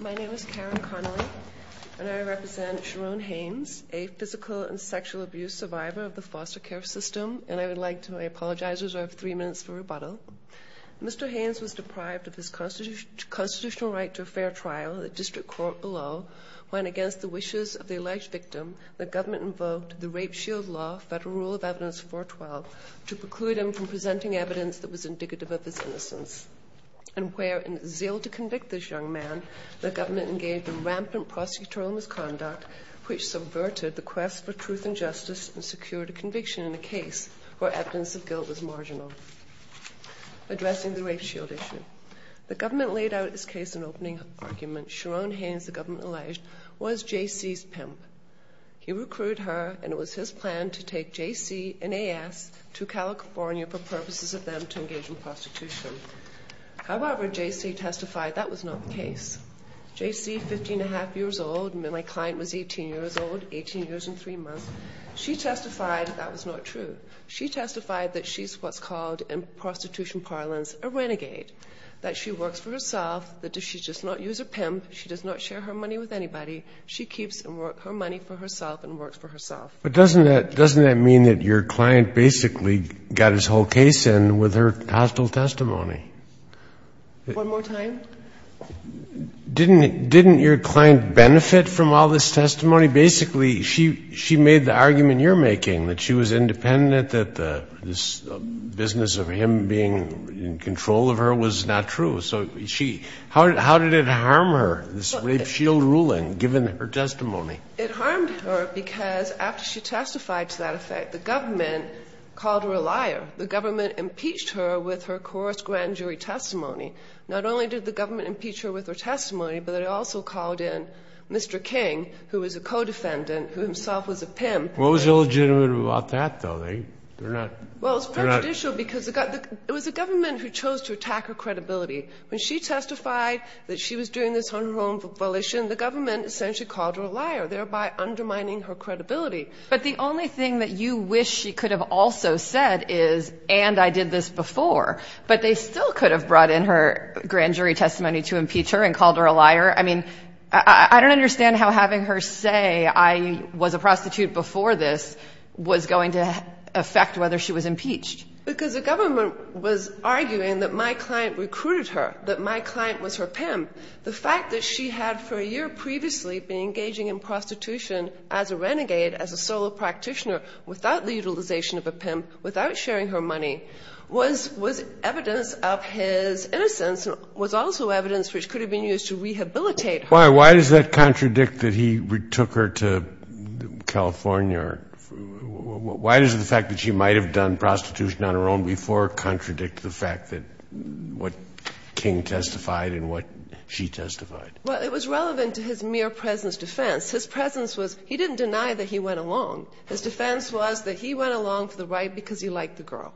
My name is Karen Connery and I represent Sha-ron Haines, a physical and sexual abuse survivor of the foster care system, and I would like to apologize as I have three minutes for rebuttal. Mr. Haines was deprived of his constitutional right to a fair trial in the district court below when, against the wishes of the alleged victim, the government invoked the Rape Shield Law Federal Rule of Evidence 412 to preclude him from presenting evidence that was indicative of his innocence, and where, in a zeal to convict this young man, the government engaged in rampant prosecutorial misconduct which subverted the quest for truth and justice and secured a conviction in a case where evidence of guilt was marginal. Addressing the Rape Shield issue, the government laid out its case in opening argument. Sha-ron Haines, the government alleged, was J.C.'s pimp. He recruited her, and it was his plan to take J.C. and A.S. to California for purposes of them to engage in prostitution. However, J.C. testified that was not the case. J.C., 15-and-a-half years old, my client was 18 years old, 18 years and 3 months, she testified that was not true. She testified that she's what's called in prostitution parlance a renegade, that she works for herself, that she does not use a pimp, she does not share her money with anybody, she keeps her money for herself and works for herself. But doesn't that mean that your client basically got his whole case in with her hostile testimony? One more time. Didn't your client benefit from all this testimony? Basically, she made the argument you're making, that she was independent, that this business of him being in control of her was not true. So how did it harm her, this Rape Shield ruling, given her testimony? It harmed her because after she testified to that effect, the government called her a liar. The government impeached her with her coarse grand jury testimony. Not only did the government impeach her with her testimony, but it also called in Mr. King, who was a co-defendant, who himself was a pimp. What was illegitimate about that, though? They're not – they're not – Well, it's prejudicial because it got – it was the government who chose to attack her credibility. When she testified that she was doing this on her own volition, the government essentially called her a liar, thereby undermining her credibility. But the only thing that you wish she could have also said is, and I did this before, but they still could have brought in her grand jury testimony to impeach her and called her a liar. I mean, I don't understand how having her say I was a prostitute before this was going to affect whether she was impeached. Because the government was arguing that my client recruited her, that my client was her pimp, the fact that she had for a year previously been engaging in prostitution as a renegade, as a solo practitioner, without the utilization of a pimp, without sharing her money, was – was evidence of his innocence and was also evidence which could have been used to rehabilitate her. Why does that contradict that he took her to California? Why does the fact that she might have done prostitution on her own before contradict the fact that what King testified and what she testified? Well, it was relevant to his mere presence defense. His presence was – he didn't deny that he went along. His defense was that he went along for the ride because he liked the girl.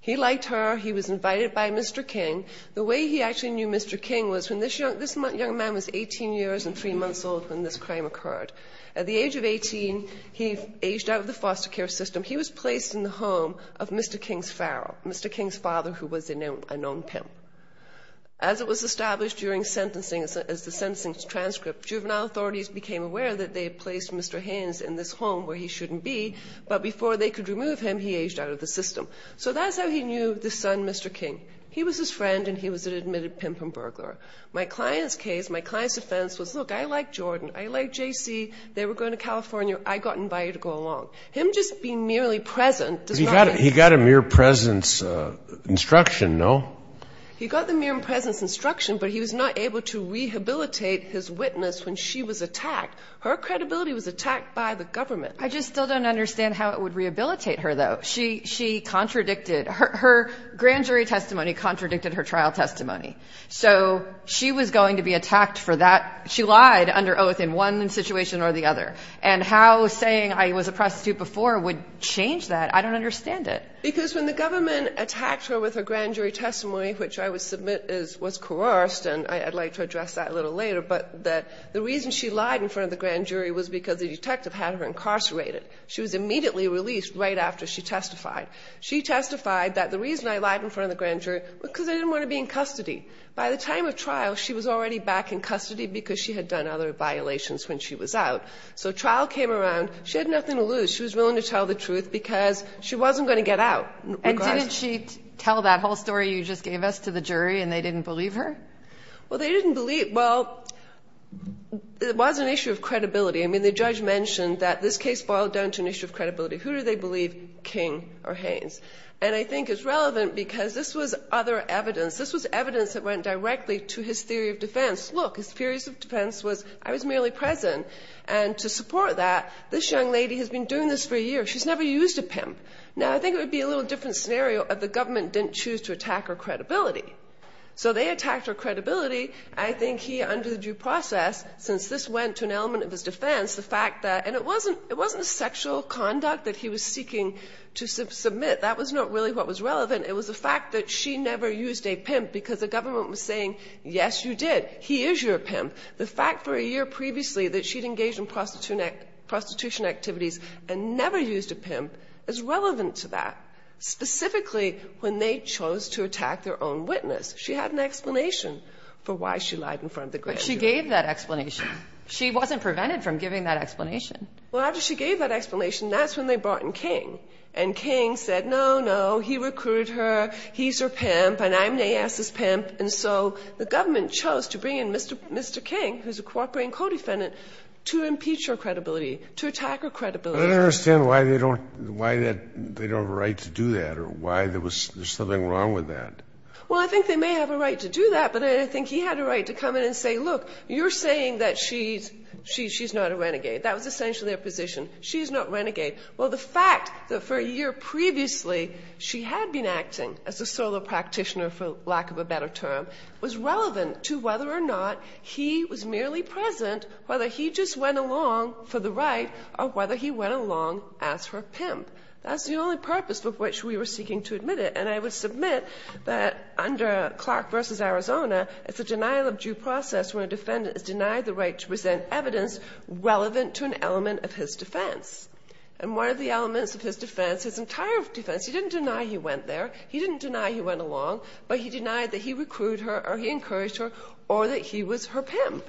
He liked her. He was invited by Mr. King. The way he actually knew Mr. King was when this young – this young man was 18 years and 3 months old when this crime occurred. At the age of 18, he aged out of the foster care system. He was placed in the home of Mr. King's pharaoh, Mr. King's father, who was a known pimp. As it was established during sentencing, as the sentencing transcript, juvenile authorities became aware that they had placed Mr. Haynes in this home where he shouldn't be, but before they could remove him, he aged out of the system. So that's how he knew this son, Mr. King. He was his friend and he was an admitted pimp and burglar. My client's case, my client's defense was, look, I like Jordan. I like JC. They were going to California. I got invited to go along. Him just being merely present does not mean – He got the mere presence instruction, but he was not able to rehabilitate his witness when she was attacked. Her credibility was attacked by the government. I just still don't understand how it would rehabilitate her, though. She contradicted – her grand jury testimony contradicted her trial testimony. So she was going to be attacked for that – she lied under oath in one situation or the other. And how saying I was a prostitute before would change that, I don't understand it. Because when the government attacked her with her grand jury testimony, which I would submit is – was coerced, and I'd like to address that a little later, but that the reason she lied in front of the grand jury was because the detective had her incarcerated. She was immediately released right after she testified. She testified that the reason I lied in front of the grand jury was because I didn't want to be in custody. By the time of trial, she was already back in custody because she had done other violations when she was out. So trial came around. She had nothing to lose. She was willing to tell the truth because she wasn't going to get out. And didn't she tell that whole story you just gave us to the jury and they didn't believe her? Well, they didn't believe – well, it was an issue of credibility. I mean, the judge mentioned that this case boiled down to an issue of credibility. Who do they believe? King or Haynes. And I think it's relevant because this was other evidence. This was evidence that went directly to his theory of defense. Look, his theories of defense was I was merely present. And to support that, this young lady has been doing this for years. She's never used a pimp. Now, I think it would be a little different scenario if the government didn't choose to attack her credibility. So they attacked her credibility. I think he, under due process, since this went to an element of his defense, the fact that – and it wasn't sexual conduct that he was seeking to submit. That was not really what was relevant. It was the fact that she never used a pimp because the government was saying, yes, you did. He is your pimp. The fact for a year previously that she had engaged in prostitution activities and never used a pimp is relevant to that, specifically when they chose to attack their own witness. She had an explanation for why she lied in front of the grand jury. But she gave that explanation. She wasn't prevented from giving that explanation. Well, after she gave that explanation, that's when they brought in King. And King said, no, no, he recruited her. He's her pimp, and I'm Nass's pimp. And so the government chose to bring in Mr. King, who's a cooperating co-defendant, to impeach her credibility, to attack her credibility. I don't understand why they don't – why they don't have a right to do that or why there was – there's something wrong with that. Well, I think they may have a right to do that, but I think he had a right to come in and say, look, you're saying that she's – she's not a renegade. That was essentially her position. She's not a renegade. Well, the fact that for a year previously she had been acting as a solo practitioner, for lack of a better term, was relevant to whether or not he was merely present, whether he just went along for the right or whether he went along as her pimp. That's the only purpose for which we were seeking to admit it. And I would submit that under Clark v. Arizona, it's a denial-of-due process where a defendant is denied the right to present evidence relevant to an element of his defense. And one of the elements of his defense, his entire defense – he didn't deny he went there. He didn't deny he went along. But he denied that he recruited her or he encouraged her or that he was her pimp.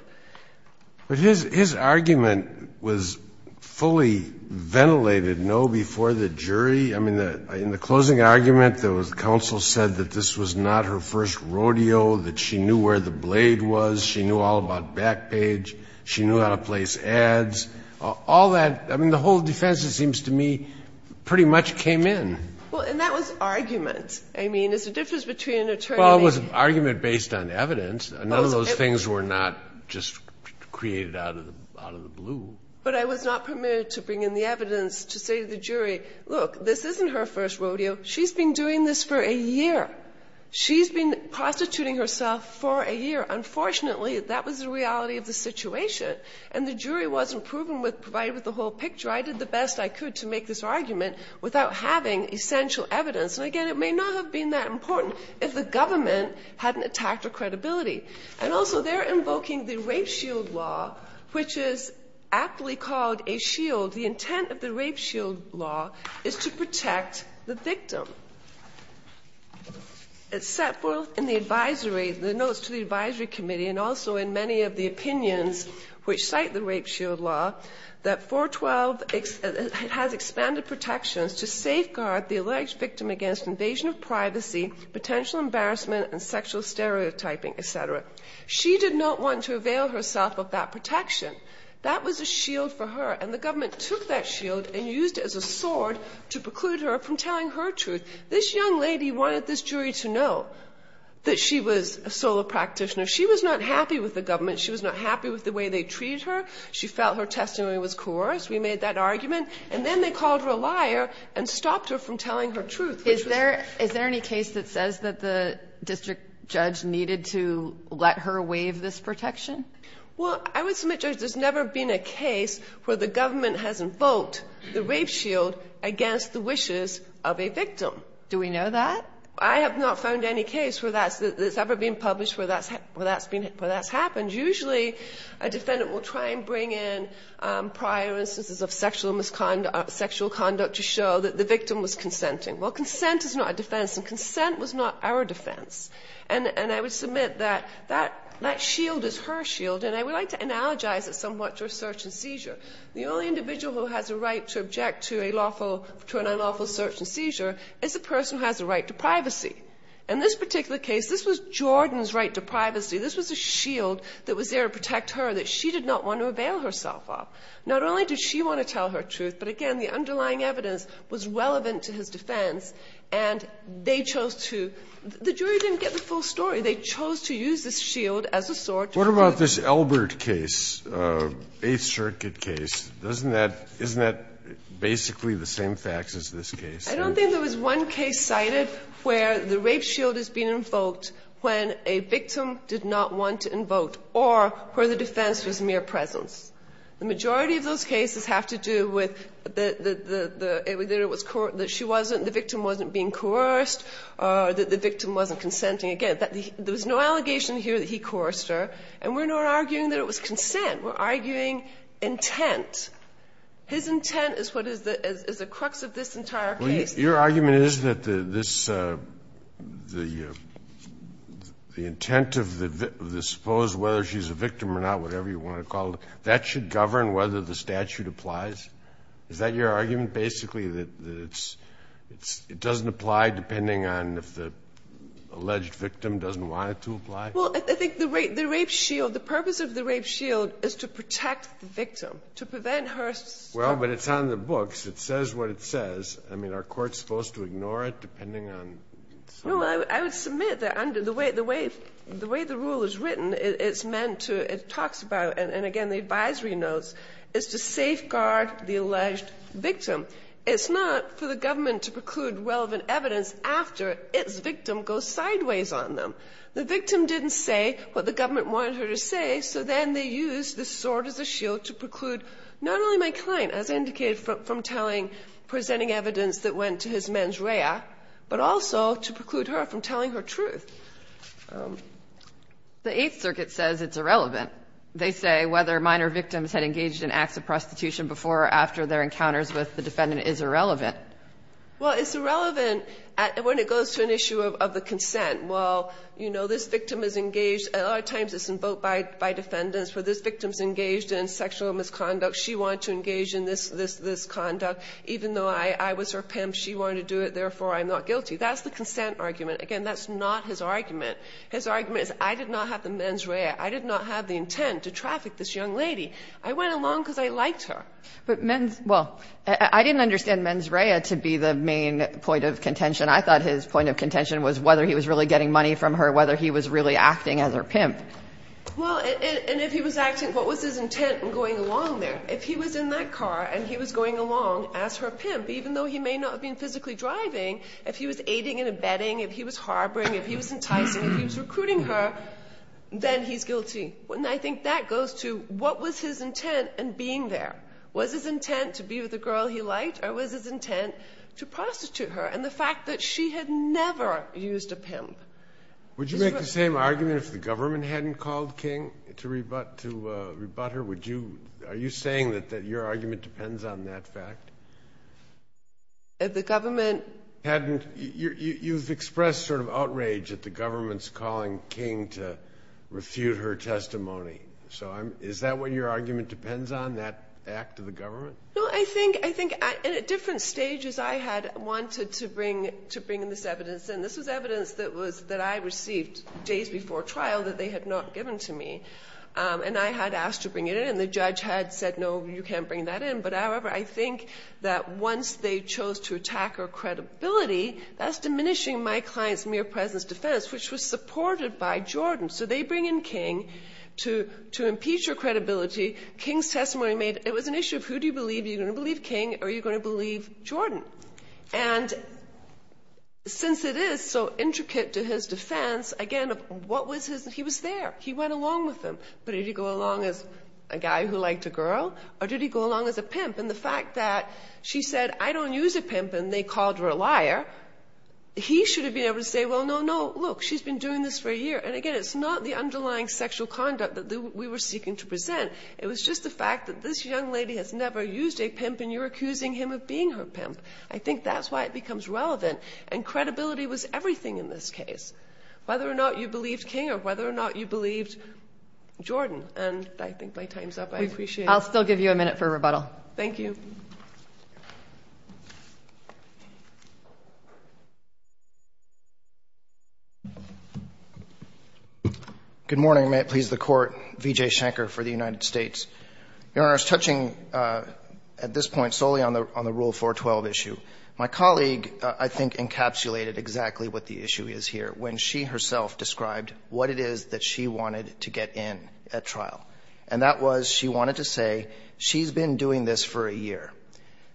But his – his argument was fully ventilated, no, before the jury. I mean, in the closing argument, there was – counsel said that this was not her first rodeo, that she knew where the blade was. She knew all about back page. She knew how to place ads. All that – I mean, the whole defense, it seems to me, pretty much came in. Well, and that was argument. I mean, it's the difference between an attorney and a – Well, it was an argument based on evidence. None of those things were not just created out of the blue. But I was not permitted to bring in the evidence to say to the jury, look, this isn't her first rodeo. She's been doing this for a year. She's been prostituting herself for a year. Unfortunately, that was the reality of the situation. And the jury wasn't proven with – provided with the whole picture. I did the best I could to make this argument without having essential evidence. And again, it may not have been that important if the government hadn't attacked her credibility. And also, they're invoking the rape shield law, which is aptly called a shield. The intent of the rape shield law is to protect the victim. It's set forth in the advisory – the notes to the advisory committee and also in many of the opinions which cite the protections to safeguard the alleged victim against invasion of privacy, potential embarrassment, and sexual stereotyping, et cetera. She did not want to avail herself of that protection. That was a shield for her. And the government took that shield and used it as a sword to preclude her from telling her truth. This young lady wanted this jury to know that she was a solo practitioner. She was not happy with the government. She was not happy with the way they treated her. She felt her testimony was coerced. We made that argument. And then they called her a liar and stopped her from telling her truth, which was – Is there – is there any case that says that the district judge needed to let her waive this protection? Well, I would submit, Judge, there's never been a case where the government has invoked the rape shield against the wishes of a victim. Do we know that? I have not found any case where that's – that's ever been published where that's been – where that's happened. Usually, a defendant will try and bring in prior instances of sexual misconduct – sexual conduct to show that the victim was consenting. Well, consent is not a defense, and consent was not our defense. And I would submit that that shield is her shield, and I would like to analogize it somewhat to a search and seizure. The only individual who has a right to object to a lawful – to an unlawful search and seizure is a person who has a right to privacy. In this particular case, this was Jordan's right to privacy. This was a shield that was there to protect her that she did not want to avail herself of. Not only did she want to tell her truth, but again, the underlying evidence was relevant to his defense, and they chose to – the jury didn't get the full story. They chose to use this shield as a sword to protect her. What about this Elbert case, 8th Circuit case? Doesn't that – isn't that basically the same facts as this case? I don't think there was one case cited where the rape shield has been invoked when a victim did not want to invoke or where the defense was mere presence. The majority of those cases have to do with the – that it was – that she wasn't – the victim wasn't being coerced or that the victim wasn't consenting. Again, there was no allegation here that he coerced her, and we're not arguing that it was consent. We're arguing intent. His intent is what is the – is the crux of this entire case. Your argument is that this – the intent of the – this supposed whether she's a victim or not, whatever you want to call it, that should govern whether the statute applies? Is that your argument, basically, that it's – it doesn't apply depending on if the alleged victim doesn't want it to apply? Well, I think the rape shield – the purpose of the rape shield is to protect the victim, to prevent her – Well, but it's on the books. It says what it says. I mean, are courts supposed to ignore it depending on some – No, I would submit that under the way – the way – the way the rule is written, it's meant to – it talks about, and again, the advisory notes, is to safeguard the alleged victim. It's not for the government to preclude relevant evidence after its victim goes sideways on them. The victim didn't say what the government wanted her to say, so then they used the sword as a shield to preclude not only my client, as indicated from telling – presenting evidence that went to his mens rea, but also to preclude her from telling her truth. The Eighth Circuit says it's irrelevant. They say whether minor victims had engaged in acts of prostitution before or after their encounters with the defendant is irrelevant. Well, it's irrelevant when it goes to an issue of the consent. Well, you know, this victim is engaged – a lot of times it's invoked by defendants. For this victim's in sexual misconduct, she wanted to engage in this conduct, even though I was her pimp, she wanted to do it, therefore I'm not guilty. That's the consent argument. Again, that's not his argument. His argument is I did not have the mens rea. I did not have the intent to traffic this young lady. I went along because I liked her. But mens – well, I didn't understand mens rea to be the main point of contention. I thought his point of contention was whether he was really getting money from her, whether he was really acting as her pimp. Well, and if he was acting, what was his intent in going along there? If he was in that car and he was going along as her pimp, even though he may not have been physically driving, if he was aiding and abetting, if he was harboring, if he was enticing, if he was recruiting her, then he's guilty. And I think that goes to what was his intent in being there. Was his intent to be with a girl he liked or was his intent to prostitute her? And the fact that she had never used a pimp. Would you make the same argument if the government hadn't called King to rebut her? Would you – are you saying that your argument depends on that fact? If the government – Hadn't – you've expressed sort of outrage that the government's calling King to refute her testimony. So is that what your argument depends on, that act of the government? No, I think – and at different stages, I had wanted to bring this evidence in. This was evidence that was – that I received days before trial that they had not given to me. And I had asked to bring it in and the judge had said, no, you can't bring that in. But however, I think that once they chose to attack her credibility, that's diminishing my client's mere presence defense, which was supported by Jordan. So they bring in King to impeach her credibility. King's testimony made – it was an issue of who do you believe? Are you going to believe King or are you going to believe Jordan? And since it is so intricate to his defense, again, what was his – he was there. He went along with them. But did he go along as a guy who liked a girl or did he go along as a pimp? And the fact that she said, I don't use a pimp and they called her a liar, he should have been able to say, well, no, no, look, she's been doing this for a year. And again, it's not the underlying sexual conduct that we were seeking to present. It was just the fact that this young lady has never used a pimp and you're accusing him of being her pimp. I think that's why it becomes relevant and credibility was everything in this case, whether or not you believed King or whether or not you believed Jordan. And I think my time's up. I appreciate it. I'll still give you a minute for rebuttal. Thank you. Good morning. May it please the Court. V. J. Schenker for the United States. Your Honor, touching at this point solely on the Rule 412 issue, my colleague, I think, encapsulated exactly what the issue is here when she herself described what it is that she wanted to get in at trial, and that was she wanted to say she's been doing this for a year.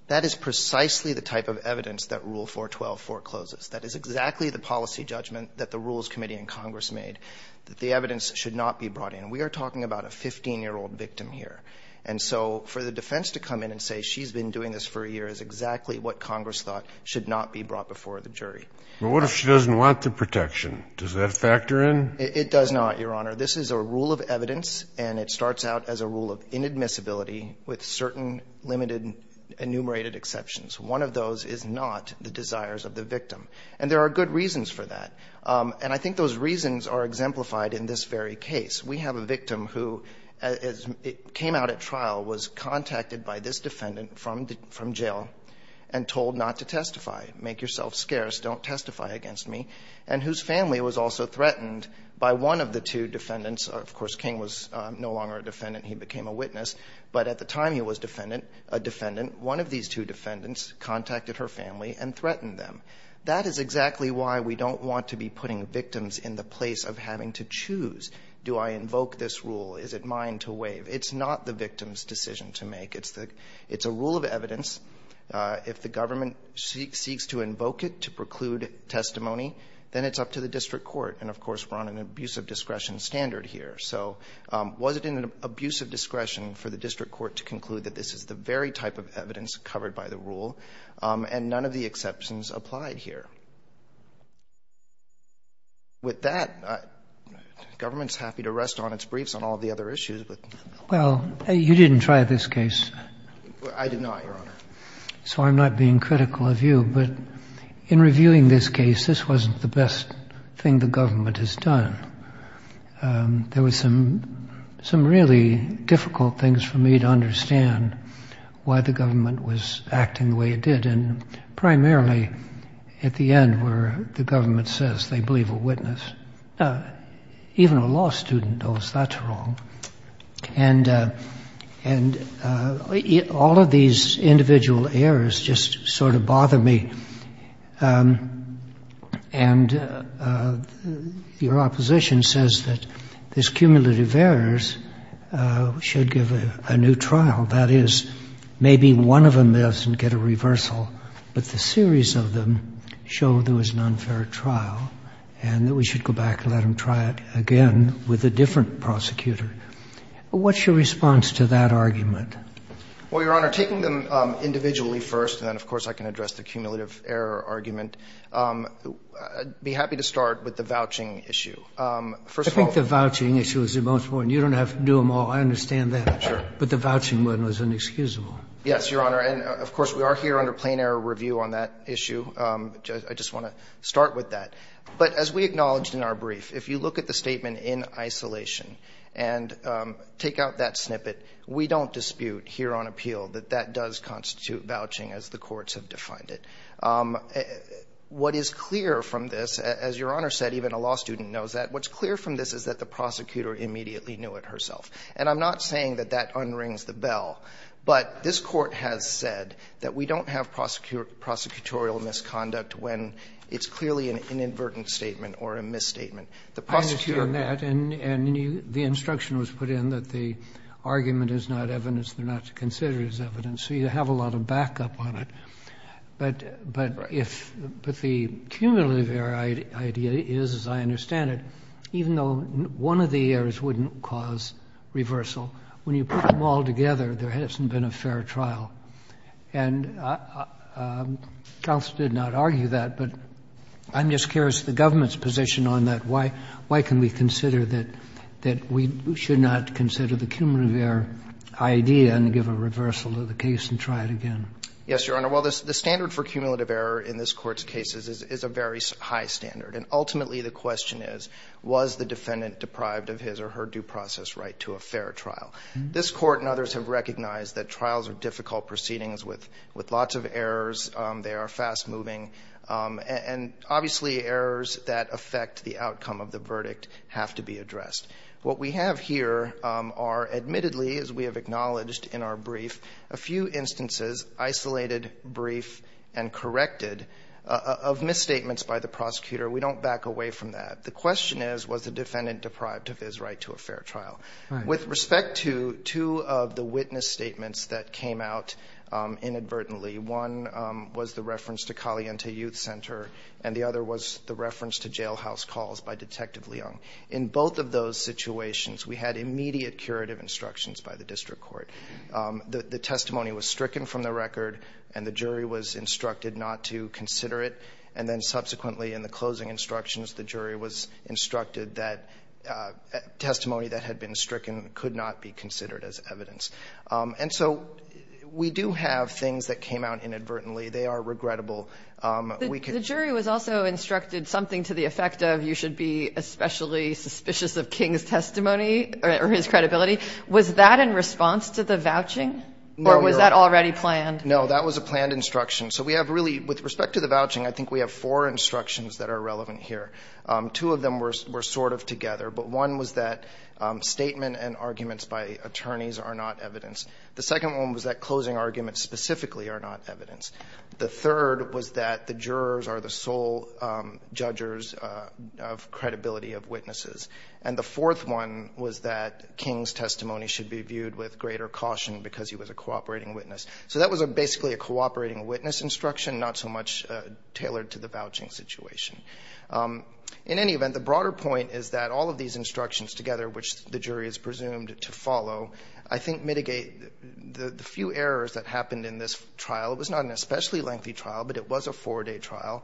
That is precisely the type of evidence that Rule 412 forecloses. That is exactly the policy judgment that the Rules Committee and Congress made, that the evidence should not be brought in. We are talking about a 15-year-old victim here. And so for the defense to come in and say she's been doing this for a year is exactly what Congress thought should not be brought before the jury. But what if she doesn't want the protection? Does that factor in? It does not, Your Honor. This is a rule of evidence, and it starts out as a rule of inadmissibility with certain limited enumerated exceptions. One of those is not the desires of the victim. And there are good reasons for that. And I think those reasons are exemplified in this very case. We have a victim who came out at trial, was contacted by this defendant from jail, and told not to testify, make yourself scarce, don't testify against me, and whose family was also threatened by one of the two defendants. Of course, King was no longer a defendant. He became a witness. But at the time he was a defendant, one of these two defendants contacted her family and threatened them. That is exactly why we don't want to be putting victims in the place of having to choose. Do I invoke this rule? Is it mine to waive? It's not the victim's decision to make. It's the – it's a rule of evidence. If the government seeks to invoke it to preclude testimony, then it's up to the district court. And, of course, we're on an abuse of discretion standard here. So was it in an abuse of discretion for the district court to conclude that this is the very type of evidence covered by the rule? And none of the exceptions applied here. With that, government's happy to rest on its briefs on all of the other issues, but – Well, you didn't try this case. I did not, Your Honor. So I'm not being critical of you. But in reviewing this case, this wasn't the best thing the government has done. There was some – some really difficult things for me to understand why the government was acting the way it did, and primarily at the end where the government says they believe a witness. Even a law student knows that's wrong. And – and all of these individual errors just sort of bother me. And your opposition says that these cumulative errors should give a new trial, that is, maybe one of them lives and get a reversal, but the series of them show there was an unfair trial and that we should go back and let them try it again with a different prosecutor. What's your response to that argument? Well, Your Honor, taking them individually first, and then of course I can address the cumulative error argument, I'd be happy to start with the vouching issue. First of all – I think the vouching issue is the most important. You don't have to do them all. I understand that. Sure. But the vouching one was inexcusable. Yes, Your Honor. And of course, we are here under plain error review on that issue. I just want to start with that. But as we acknowledged in our brief, if you look at the statement in isolation and take out that snippet, we don't dispute here on appeal that that does constitute vouching as the courts have defined it. What is clear from this, as Your Honor said, even a law student knows that, what's clear from this is that the prosecutor immediately knew it herself. And I'm not saying that that unrings the bell, but this Court has said that we don't have prosecutorial misconduct when it's clearly an inadvertent statement or a misstatement. The prosecutor – I understand that. And the instruction was put in that the argument is not evidence, they're not to consider as evidence. So you have a lot of backup on it. Right. But the cumulative error idea is, as I understand it, even though one of the errors wouldn't cause reversal, when you put them all together, there hasn't been a fair trial. And counsel did not argue that, but I'm just curious, the government's position on that, why can we consider that we should not consider the cumulative error idea and give a reversal to the case and try it again? Yes, Your Honor. Well, the standard for cumulative error in this Court's cases is a very high standard. And ultimately the question is, was the defendant deprived of his or her due process right to a fair trial? This Court and others have recognized that trials are difficult proceedings with lots of errors, they affect the outcome of the verdict, have to be addressed. What we have here are admittedly, as we have acknowledged in our brief, a few instances – isolated, brief, and corrected – of misstatements by the prosecutor. We don't back away from that. The question is, was the defendant deprived of his right to a fair trial? Right. With respect to two of the witness statements that came out inadvertently, one was the reference to Caliente Youth Center and the other was the reference to jailhouse calls by Detective Leung. In both of those situations, we had immediate curative instructions by the District Court. The testimony was stricken from the record and the jury was instructed not to consider it. And then subsequently in the closing instructions, the jury was instructed that testimony that had been stricken could not be considered as evidence. And so we do have things that came out inadvertently. They are regrettable. The jury was also instructed something to the effect of, you should be especially suspicious of King's testimony or his credibility. Was that in response to the vouching or was that already planned? No, that was a planned instruction. So we have really, with respect to the vouching, I think we have four instructions that are relevant here. Two of them were sort of together, but one was that statement and arguments by attorneys are not evidence. The second one was that closing arguments specifically are not evidence. The third was that the jurors are the sole judges of credibility of witnesses. And the fourth one was that King's testimony should be viewed with greater caution because he was a cooperating witness. So that was basically a cooperating witness instruction, not so much tailored to the vouching situation. In any event, the broader point is that all of these instructions together, which the jury is presumed to follow, I think mitigate the few errors that happened in this trial. It was not an especially lengthy trial, but it was a four-day trial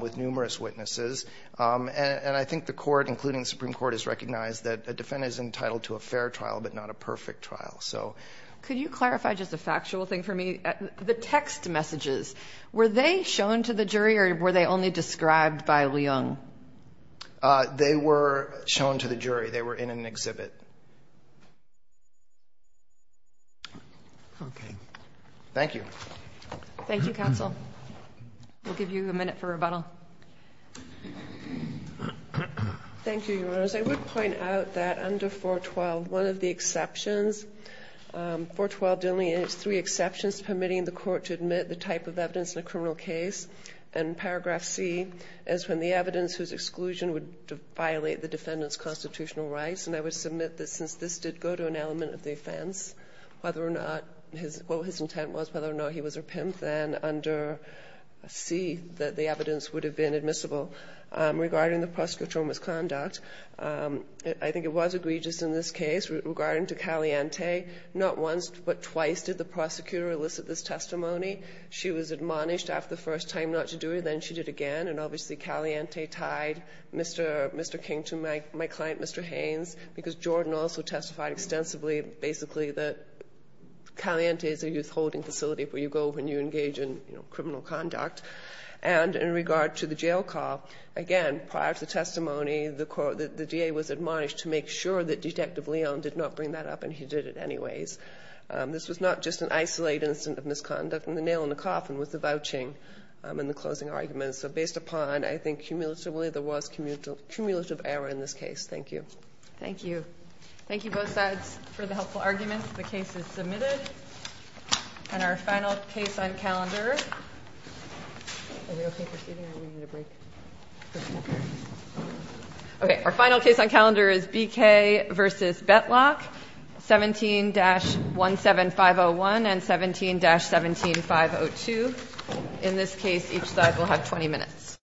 with numerous witnesses. And I think the Court, including the Supreme Court, has recognized that a defendant is entitled to a fair trial, but not a perfect trial. Could you clarify just a factual thing for me? The text messages, were they shown to the jury or were they only described by Leung? They were shown to the jury. They were in an exhibit. Okay. Thank you. Thank you, Counsel. We'll give you a minute for rebuttal. Thank you, Your Honors. I would point out that under 412, one of the exceptions 412, there are only three exceptions permitting the Court to admit the type of evidence in a criminal case. And paragraph C is when the evidence whose exclusion would violate the defendant's constitutional rights. And I would submit that since this did go to an element of the offense, whether or not his – what his intent was, whether or not he was a pimp, then under C, that the evidence would have been admissible regarding the prosecutor's misconduct. I think it was egregious in this case regarding to Caliente. Not once but twice did the prosecutor elicit this testimony. She was admonished after the first time not to do it. Then she did it again. And obviously, Caliente tied Mr. King to my client, Mr. Haynes, because Jordan also testified extensively, basically, that Caliente is a youth holding facility where you go when you engage in criminal conduct. And in regard to the jail call, again, prior to the testimony, the DA was admonished to make sure that Detective Leung did not bring that up and he did it anyways. This was not just an isolated incident of misconduct. And the nail in the coffin was the vouching and the closing arguments. So based upon, I think, cumulatively, there was cumulative error in this case. Thank you. Thank you. Thank you both sides for the helpful arguments. The case is submitted. And our final case on calendar. Okay. Our final case on calendar is BK v. Betlock. 17-17501 and 17-17502. In this case, each side will have 20 minutes.